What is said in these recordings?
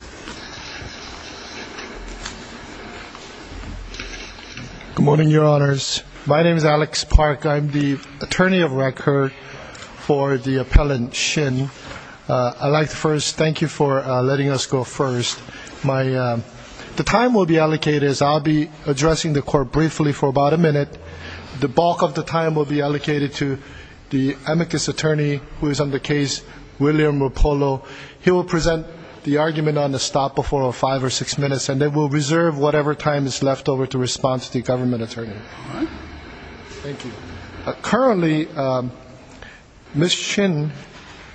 Good morning, your honors. My name is Alex Park. I'm the attorney of record for the appellant Shin. I'd like to first thank you for letting us go first. The time will be allocated, as I'll be addressing the court briefly for about a minute. The bulk of the time will be allocated to the amicus attorney who is on the case, William Rapolo. He will present the argument on behalf of the court. Currently, Ms. Shin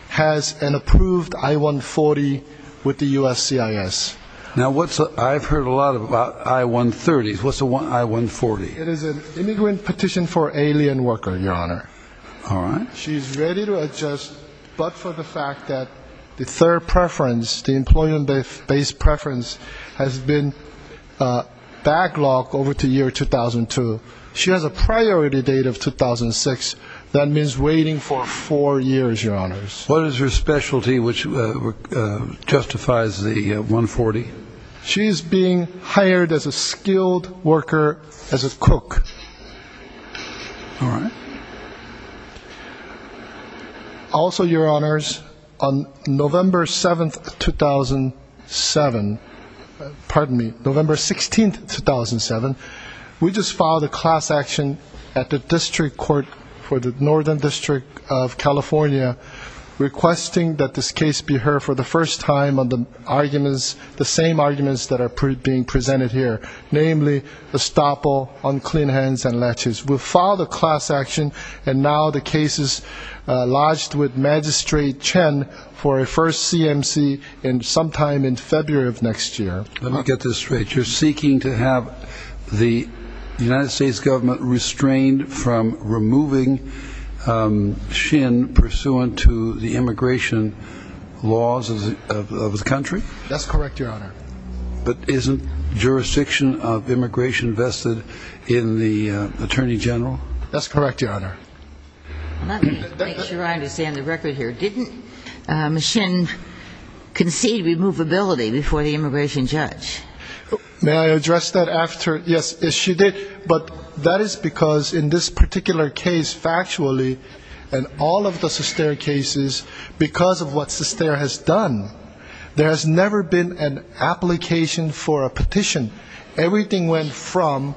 has an approved I-140 with the USCIS. Now, I've heard a lot about I-130s. What's an I-140? It is an immigrant petition for alien worker, your honor. All right. She's ready to adjust, but for the fact that the third preference, the employment-based preference, has been backlogged over to year 2002. She has a priority date of 2006. That means waiting for four years, your honors. What is her specialty which justifies the I-140? She's being hired as a skilled worker as a cook. All right. Also, your honors, on November 7th, 2007, pardon me, November 16th, 2007, we just filed a class action at the district court for the Northern District of California requesting that this case be heard for the first time on the arguments, the same arguments that are being presented here, namely estoppel, unclean hands, and latches. We filed a class action, and now the case is lodged with Magistrate Chen for a first CMC sometime in February of next year. Let me get this straight. You're seeking to have the United States government restrained from removing Shin pursuant to the immigration laws of the country? That's correct, your honor. But isn't jurisdiction of immigration vested in the attorney general? That's correct, your honor. Let me make sure I understand the record here. Didn't Shin concede removability before the immigration judge? May I address that after? Yes, she did. But that is because in this particular case, factually, and all of the Sustair cases, because of what Sustair has done, there has never been an application for a petition. Everything went from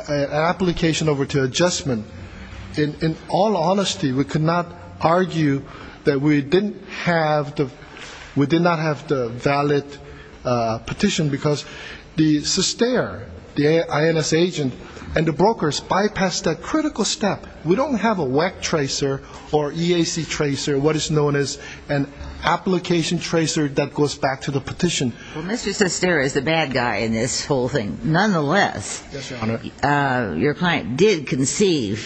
application over to adjustment. In all honesty, we cannot argue that we did not have the valid petition, because the Sustair, the INS agent, and the brokers bypassed that critical step. We don't have a WEC tracer or EAC tracer, what is known as an application tracer that goes back to the petition. Well, Mr. Sustair is the bad guy in this whole thing. Nonetheless, your client did concede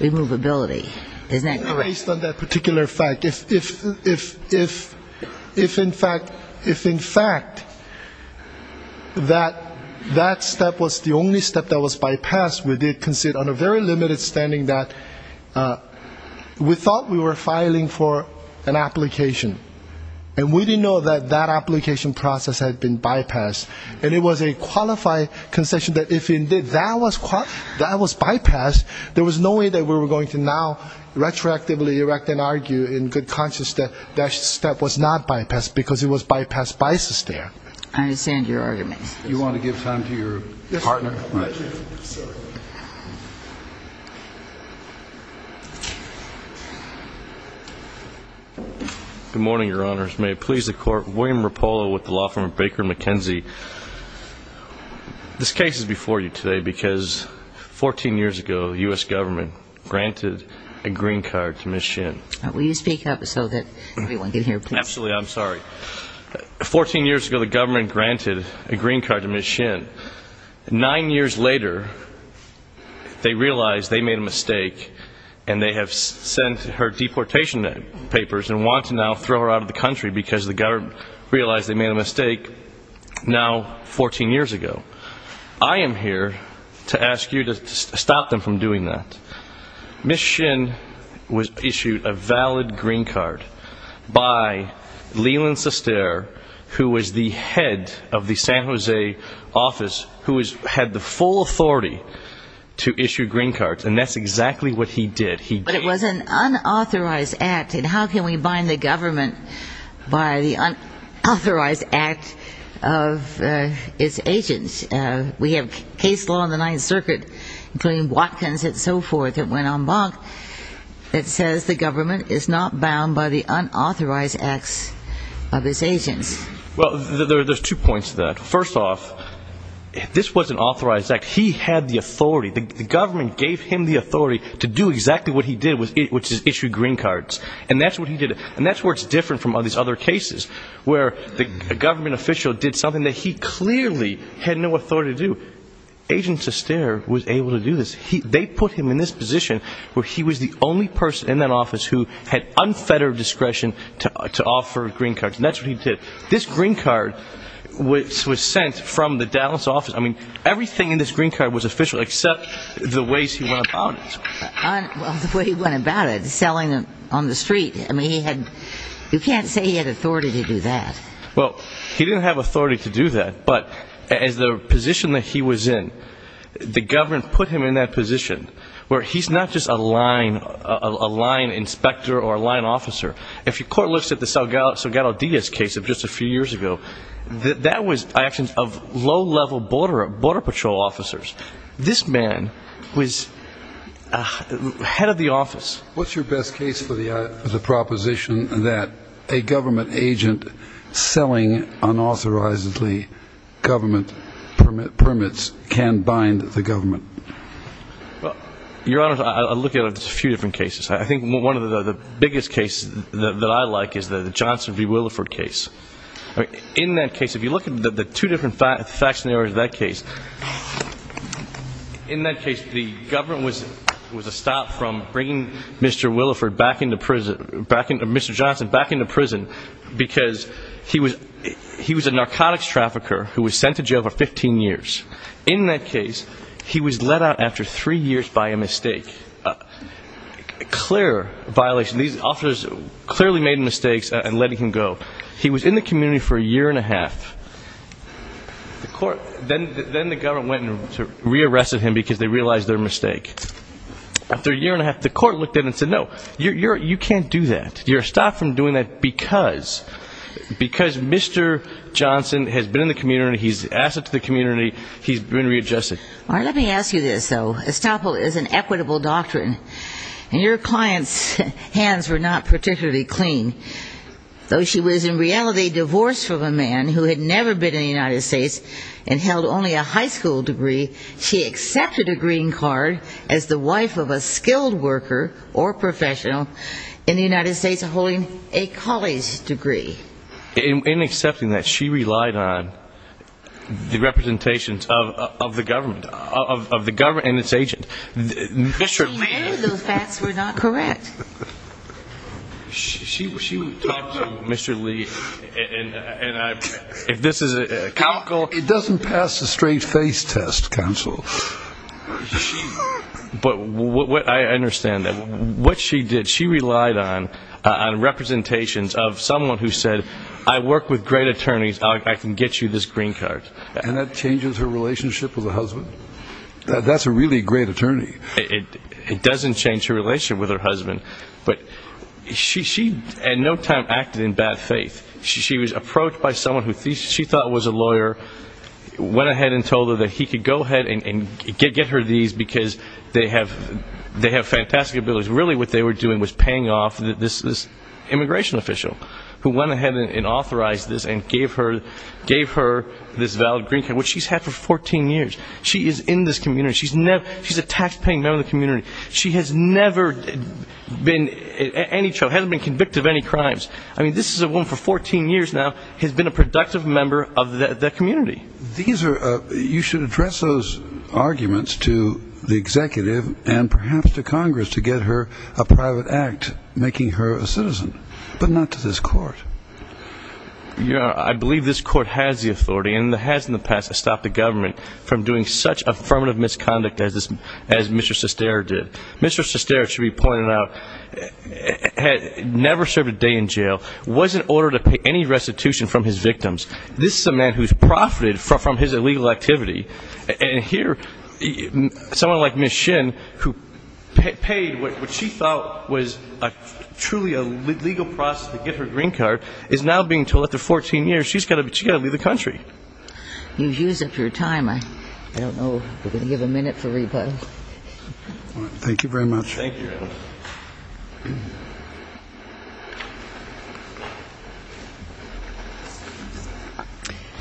removability. Isn't that correct? Based on that particular fact, if in fact that step was the only step that was bypassed, we did concede on a very limited standing that we thought we were filing for an application. And we didn't know that that application process had been bypassed. And it was a qualified concession that if indeed that was bypassed, there was no way that we were going to now retroactively erect and argue in good conscience that that step was not bypassed, because it was bypassed by Sustair. I understand your argument. Do you want to give time to your partner? Good morning, Your Honors. May it please the Court, William Rapolo with the law firm Baker McKenzie. This case is before you today because 14 years ago, the U.S. government granted a green card to Ms. Shin. Will you speak up so that everyone can hear, please? 14 years ago, the government granted a green card to Ms. Shin. Nine years later, they realize they made a mistake and they have sent her deportation papers and want to now throw her out of the country because the government realized they made a mistake now 14 years ago. I am here to ask you to stop them from doing that. Ms. Shin was issued a valid green card by Leland Sustair, who was the head of the San Jose office, who had the full authority to issue green cards, and that's exactly what he did. But it was an unauthorized act, and how can we bind the government by the unauthorized act of its agents? We have case law in the Ninth Circuit, including Watkins and so forth, that went en banc that says the government is not bound by the unauthorized acts of its agents. Well, there's two points to that. First off, this was an authorized act. He had the authority. The government gave him the authority to do exactly what he did, which is issue green cards, and that's what he did. The government official did something that he clearly had no authority to do. Agent Sustair was able to do this. They put him in this position where he was the only person in that office who had unfettered discretion to offer green cards, and that's what he did. This green card was sent from the Dallas office. I mean, everything in this green card was official except the ways he went about it. The way he went about it, selling them on the street. I mean, you can't say he had authority to do that. Well, he didn't have authority to do that, but as the position that he was in, the government put him in that position where he's not just a line inspector or a line officer. If your court looks at the Salgado Diaz case of just a few years ago, that was actions of low-level border patrol officers. This man was head of the office. What's your best case for the proposition that a government agent selling unauthorized government permits can bind the government? Your Honor, I look at a few different cases. I think one of the biggest cases that I like is the Johnson v. Williford case. In that case, if you look at the two different facts in that case, in that case, the government was a stop from bringing Mr. Johnson back into prison because he was a narcotics trafficker who was sent to jail for 15 years. In that case, he was let out after three years by a mistake, a clear violation. These officers clearly made mistakes in letting him go. He was in the community for a year and a half. Then the government went and re-arrested him because they realized their mistake. After a year and a half, the court looked at him and said, no, you can't do that. You're a stop from doing that because Mr. Johnson has been in the community, he's an asset to the community, he's been readjusted. All right, let me ask you this, though. Your client's hands were not particularly clean. Though she was in reality divorced from a man who had never been in the United States and held only a high school degree, she accepted a green card as the wife of a skilled worker or professional in the United States holding a college degree. In accepting that, she relied on the representations of the government and its agents. She knew those facts were not correct. She talked to Mr. Lee, and if this is a comical... It doesn't pass the straight face test, counsel. But I understand that. What she did, she relied on representations of someone who said, I work with great attorneys, I can get you this green card. And that changes her relationship with her husband? That's a really great attorney. It doesn't change her relationship with her husband. But she at no time acted in bad faith. She was approached by someone who she thought was a lawyer, went ahead and told her that he could go ahead and get her these because they have fantastic abilities. Really what they were doing was paying off this immigration official who went ahead and authorized this and gave her this valid green card, which she's had for 14 years. She is in this community. She's a taxpaying member of the community. She has never been in any trouble, hasn't been convicted of any crimes. I mean, this is a woman for 14 years now who has been a productive member of the community. You should address those arguments to the executive and perhaps to Congress to get her a private act making her a citizen, but not to this court. I believe this court has the authority, and it has in the past, to stop the government from doing such affirmative misconduct as Mr. Sestero did. Mr. Sestero, it should be pointed out, had never served a day in jail, was in order to pay any restitution from his victims. This is a man who has profited from his illegal activity. And here someone like Ms. Shin, who paid what she thought was truly a legal process to get her green card, is now being told after 14 years she's got to leave the country. You've used up your time. I don't know. We're going to give a minute for rebuttal. Thank you very much. Thank you.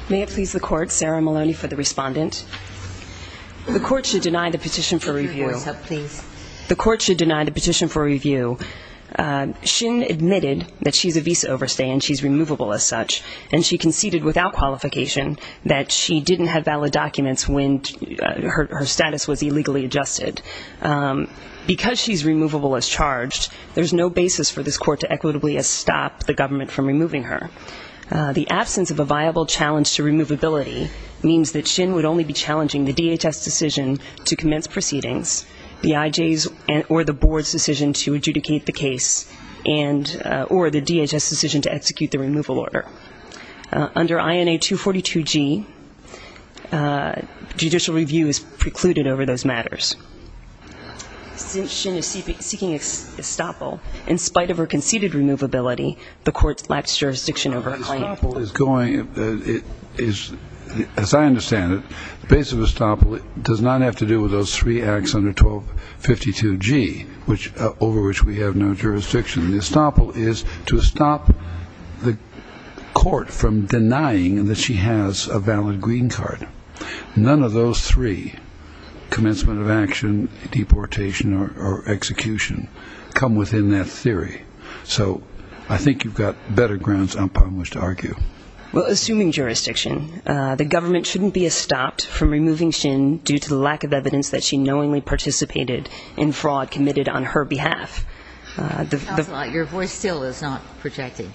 May it please the court, Sarah Maloney for the respondent. The court should deny the petition for review. The court should deny the petition for review. Shin admitted that she's a visa overstay and she's removable as such, and she conceded without qualification that she didn't have valid documents when her status was illegally adjusted. Because she's removable as charged, there's no basis for this court to equitably stop the government from removing her. The absence of a viable challenge to removability means that Shin would only be challenging the DHS decision to commence proceedings, the IJ's or the board's decision to adjudicate the case, or the DHS decision to execute the removal order. Under INA 242G, judicial review is precluded over those matters. Since Shin is seeking estoppel, in spite of her conceded removability, the court lacks jurisdiction over her claim. Estoppel is going, as I understand it, the basis of estoppel does not have to do with those three acts under 1252G, over which we have no jurisdiction. Estoppel is to stop the court from denying that she has a valid green card. None of those three, commencement of action, deportation, or execution, come within that theory. So I think you've got better grounds, I must argue. Well, assuming jurisdiction, the government shouldn't be estopped from removing Shin due to the lack of evidence that she knowingly participated in fraud committed on her behalf. Your voice still is not projected.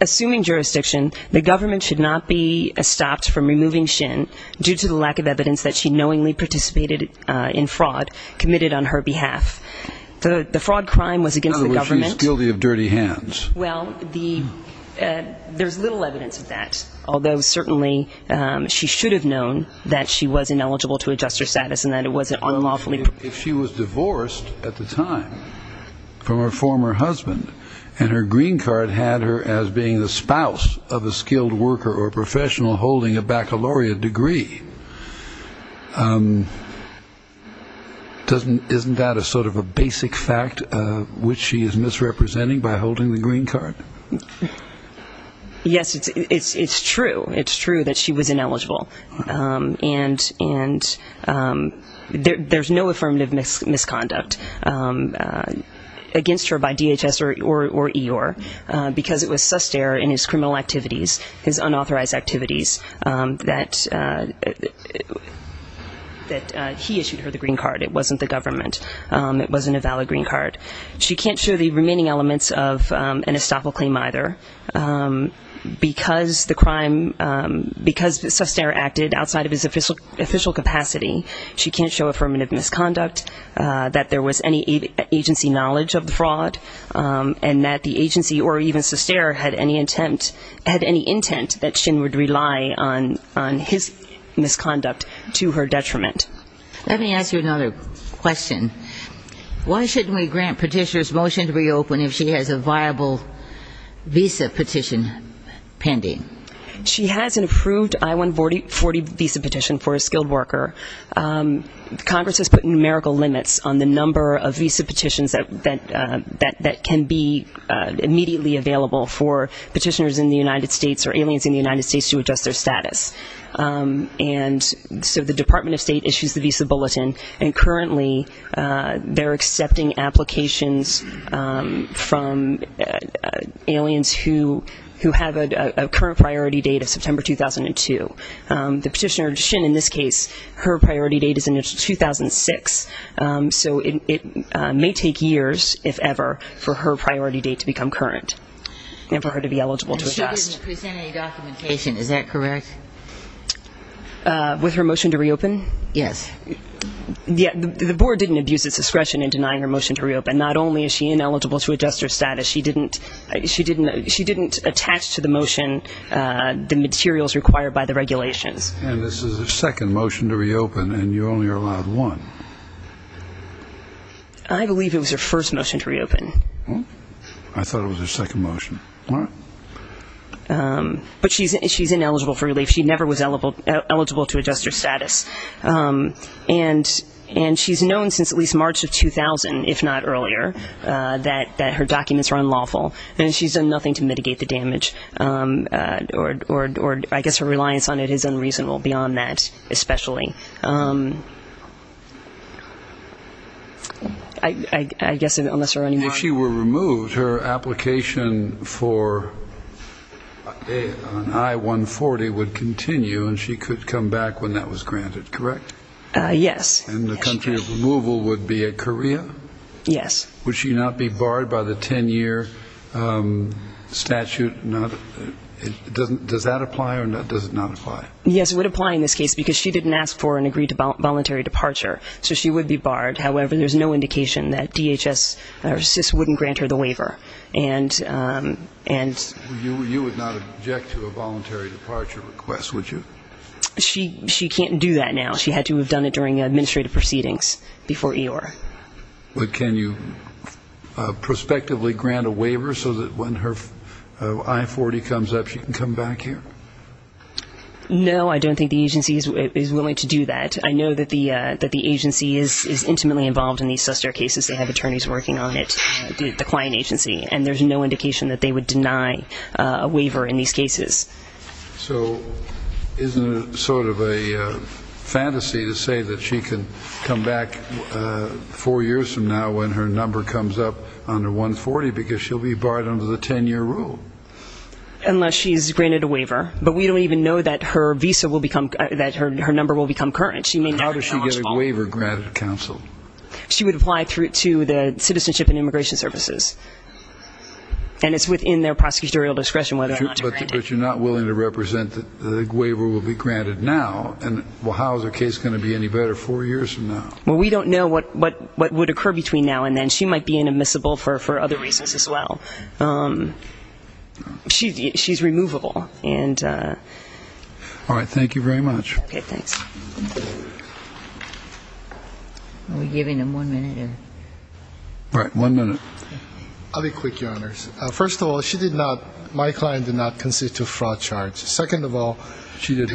Assuming jurisdiction, the government should not be estopped from removing Shin due to the lack of evidence that she knowingly participated in fraud committed on her behalf. The fraud crime was against the government. In other words, she's guilty of dirty hands. Well, there's little evidence of that, although certainly she should have known that she was ineligible to adjust her status and that it wasn't unlawfully. If she was divorced at the time from her former husband and her green card had her as being the spouse of a skilled worker or professional holding a baccalaureate degree, isn't that a sort of a basic fact which she is misrepresenting by holding the green card? Yes, it's true. It's true that she was ineligible. And there's no affirmative misconduct against her by DHS or EOR because it was Sustair in his criminal activities, his unauthorized activities, that he issued her the green card. It wasn't the government. It wasn't a valid green card. She can't show the remaining elements of an estoppel claim either because the crime, because Sustair acted outside of his official capacity. She can't show affirmative misconduct, that there was any agency knowledge of the fraud, and that the agency or even Sustair had any intent that Shin would rely on his misconduct to her detriment. Let me ask you another question. Why shouldn't we grant petitioner's motion to reopen if she has a viable visa petition pending? She has an approved I-140 visa petition for a skilled worker. Congress has put numerical limits on the number of visa petitions that can be immediately available for petitioners in the United States or aliens in the United States to adjust their status. And so the Department of State issues the visa bulletin, and currently they're accepting applications from aliens who have a current priority date of September 2002. The petitioner, Shin in this case, her priority date is in 2006. So it may take years, if ever, for her priority date to become current and for her to be eligible to adjust. She didn't present any documentation, is that correct? With her motion to reopen? Yes. The board didn't abuse its discretion in denying her motion to reopen. Not only is she ineligible to adjust her status, she didn't attach to the motion the materials required by the regulations. And this is her second motion to reopen, and you only are allowed one. I believe it was her first motion to reopen. I thought it was her second motion. But she's ineligible for relief. She never was eligible to adjust her status. And she's known since at least March of 2000, if not earlier, that her documents were unlawful. And she's done nothing to mitigate the damage, or I guess her reliance on it is unreasonable beyond that especially. If she were removed, her application for an I-140 would continue, and she could come back when that was granted, correct? Yes. And the country of removal would be Korea? Yes. Would she not be barred by the 10-year statute? Does that apply or does it not apply? Yes, it would apply in this case because she didn't ask for an agreed to voluntary departure, so she would be barred. However, there's no indication that DHS or CIS wouldn't grant her the waiver. You would not object to a voluntary departure request, would you? She can't do that now. She had to have done it during administrative proceedings before EOIR. But can you prospectively grant a waiver so that when her I-40 comes up, she can come back here? No, I don't think the agency is willing to do that. I know that the agency is intimately involved in these suster cases. They have attorneys working on it, the client agency. And there's no indication that they would deny a waiver in these cases. So isn't it sort of a fantasy to say that she can come back four years from now when her number comes up under I-40 because she'll be barred under the 10-year rule? Unless she's granted a waiver. But we don't even know that her number will become current. How does she get a waiver granted, counsel? She would apply to the Citizenship and Immigration Services. And it's within their prosecutorial discretion whether or not to grant it. But you're not willing to represent that the waiver will be granted now. Well, how is her case going to be any better four years from now? Well, we don't know what would occur between now and then. She might be inadmissible for other reasons as well. She's removable. All right. Thank you very much. Okay, thanks. Are we giving them one minute? Right, one minute. I'll be quick, Your Honors. First of all, she did not, my client did not constitute a fraud charge. Second of all, she did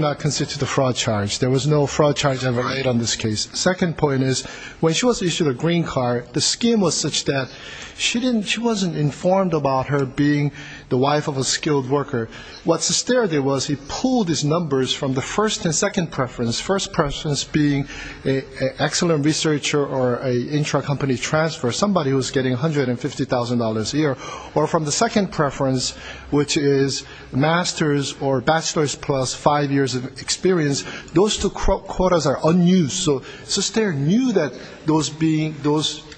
not constitute a fraud charge. There was no fraud charge ever made on this case. Second point is when she was issued a green card, the scheme was such that she wasn't informed about her being the wife of a skilled worker. What Sesteri did was he pulled his numbers from the first and second preference, first preference being an excellent researcher or an intra-company transfer, somebody who was getting $150,000 a year, or from the second preference, which is master's or bachelor's plus five years of experience. Those two quotas are unused. So Sesteri knew that those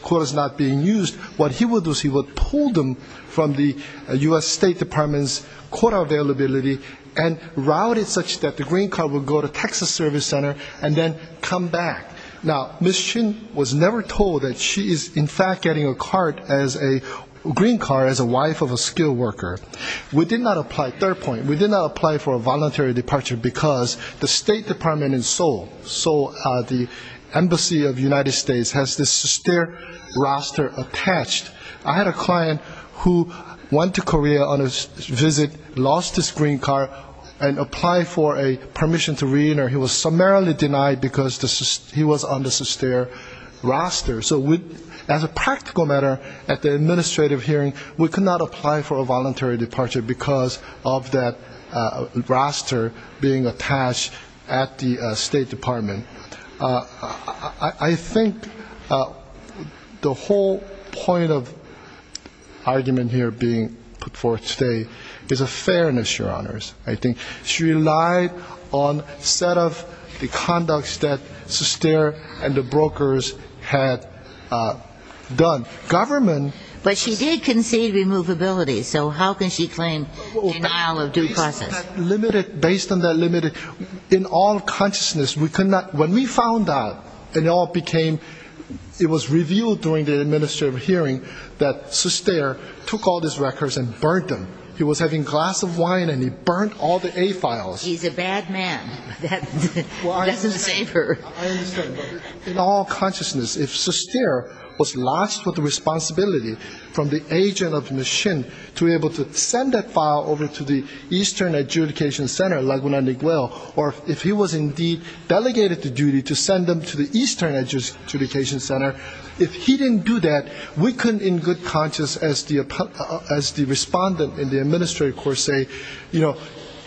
quotas were not being used. What he would do is he would pull them from the U.S. State Department's quota availability and route it such that the green card would go to Texas Service Center and then come back. Now, Ms. Chin was never told that she is, in fact, getting a card as a green card, as a wife of a skilled worker. Third point, we did not apply for a voluntary departure because the State Department in Seoul, the embassy of the United States, has the Sesteri roster attached. I had a client who went to Korea on a visit, lost his green card, and applied for a permission to reenter. He was summarily denied because he was on the Sesteri roster. So as a practical matter, at the administrative hearing, we could not apply for a voluntary departure because of that roster being attached at the State Department. I think the whole point of argument here being put forth today is a fairness, Your Honors. I think she relied on a set of the conducts that Sesteri and the brokers had done. But she did concede removability, so how can she claim denial of due process? Based on that limited, in all consciousness, when we found out, it was revealed during the administrative hearing that Sesteri took all these records and burned them. He was having a glass of wine and he burned all the A files. He's a bad man. That doesn't save her. I understand, but in all consciousness, if Sesteri was lost with the responsibility from the agent of the machine to be able to send that file over to the Eastern Adjudication Center, Laguna Niguel, or if he was indeed delegated the duty to send them to the Eastern Adjudication Center, if he didn't do that, we couldn't in good conscience as the respondent in the administrative court say,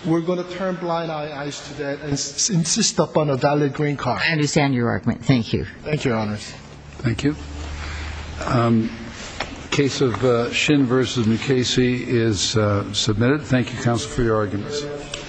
we're going to turn blind eyes to that and insist upon a valid green card. I understand your argument. Thank you. Thank you, Your Honors. Thank you. The case of Shin v. Mukasey is submitted. Thank you, counsel, for your arguments.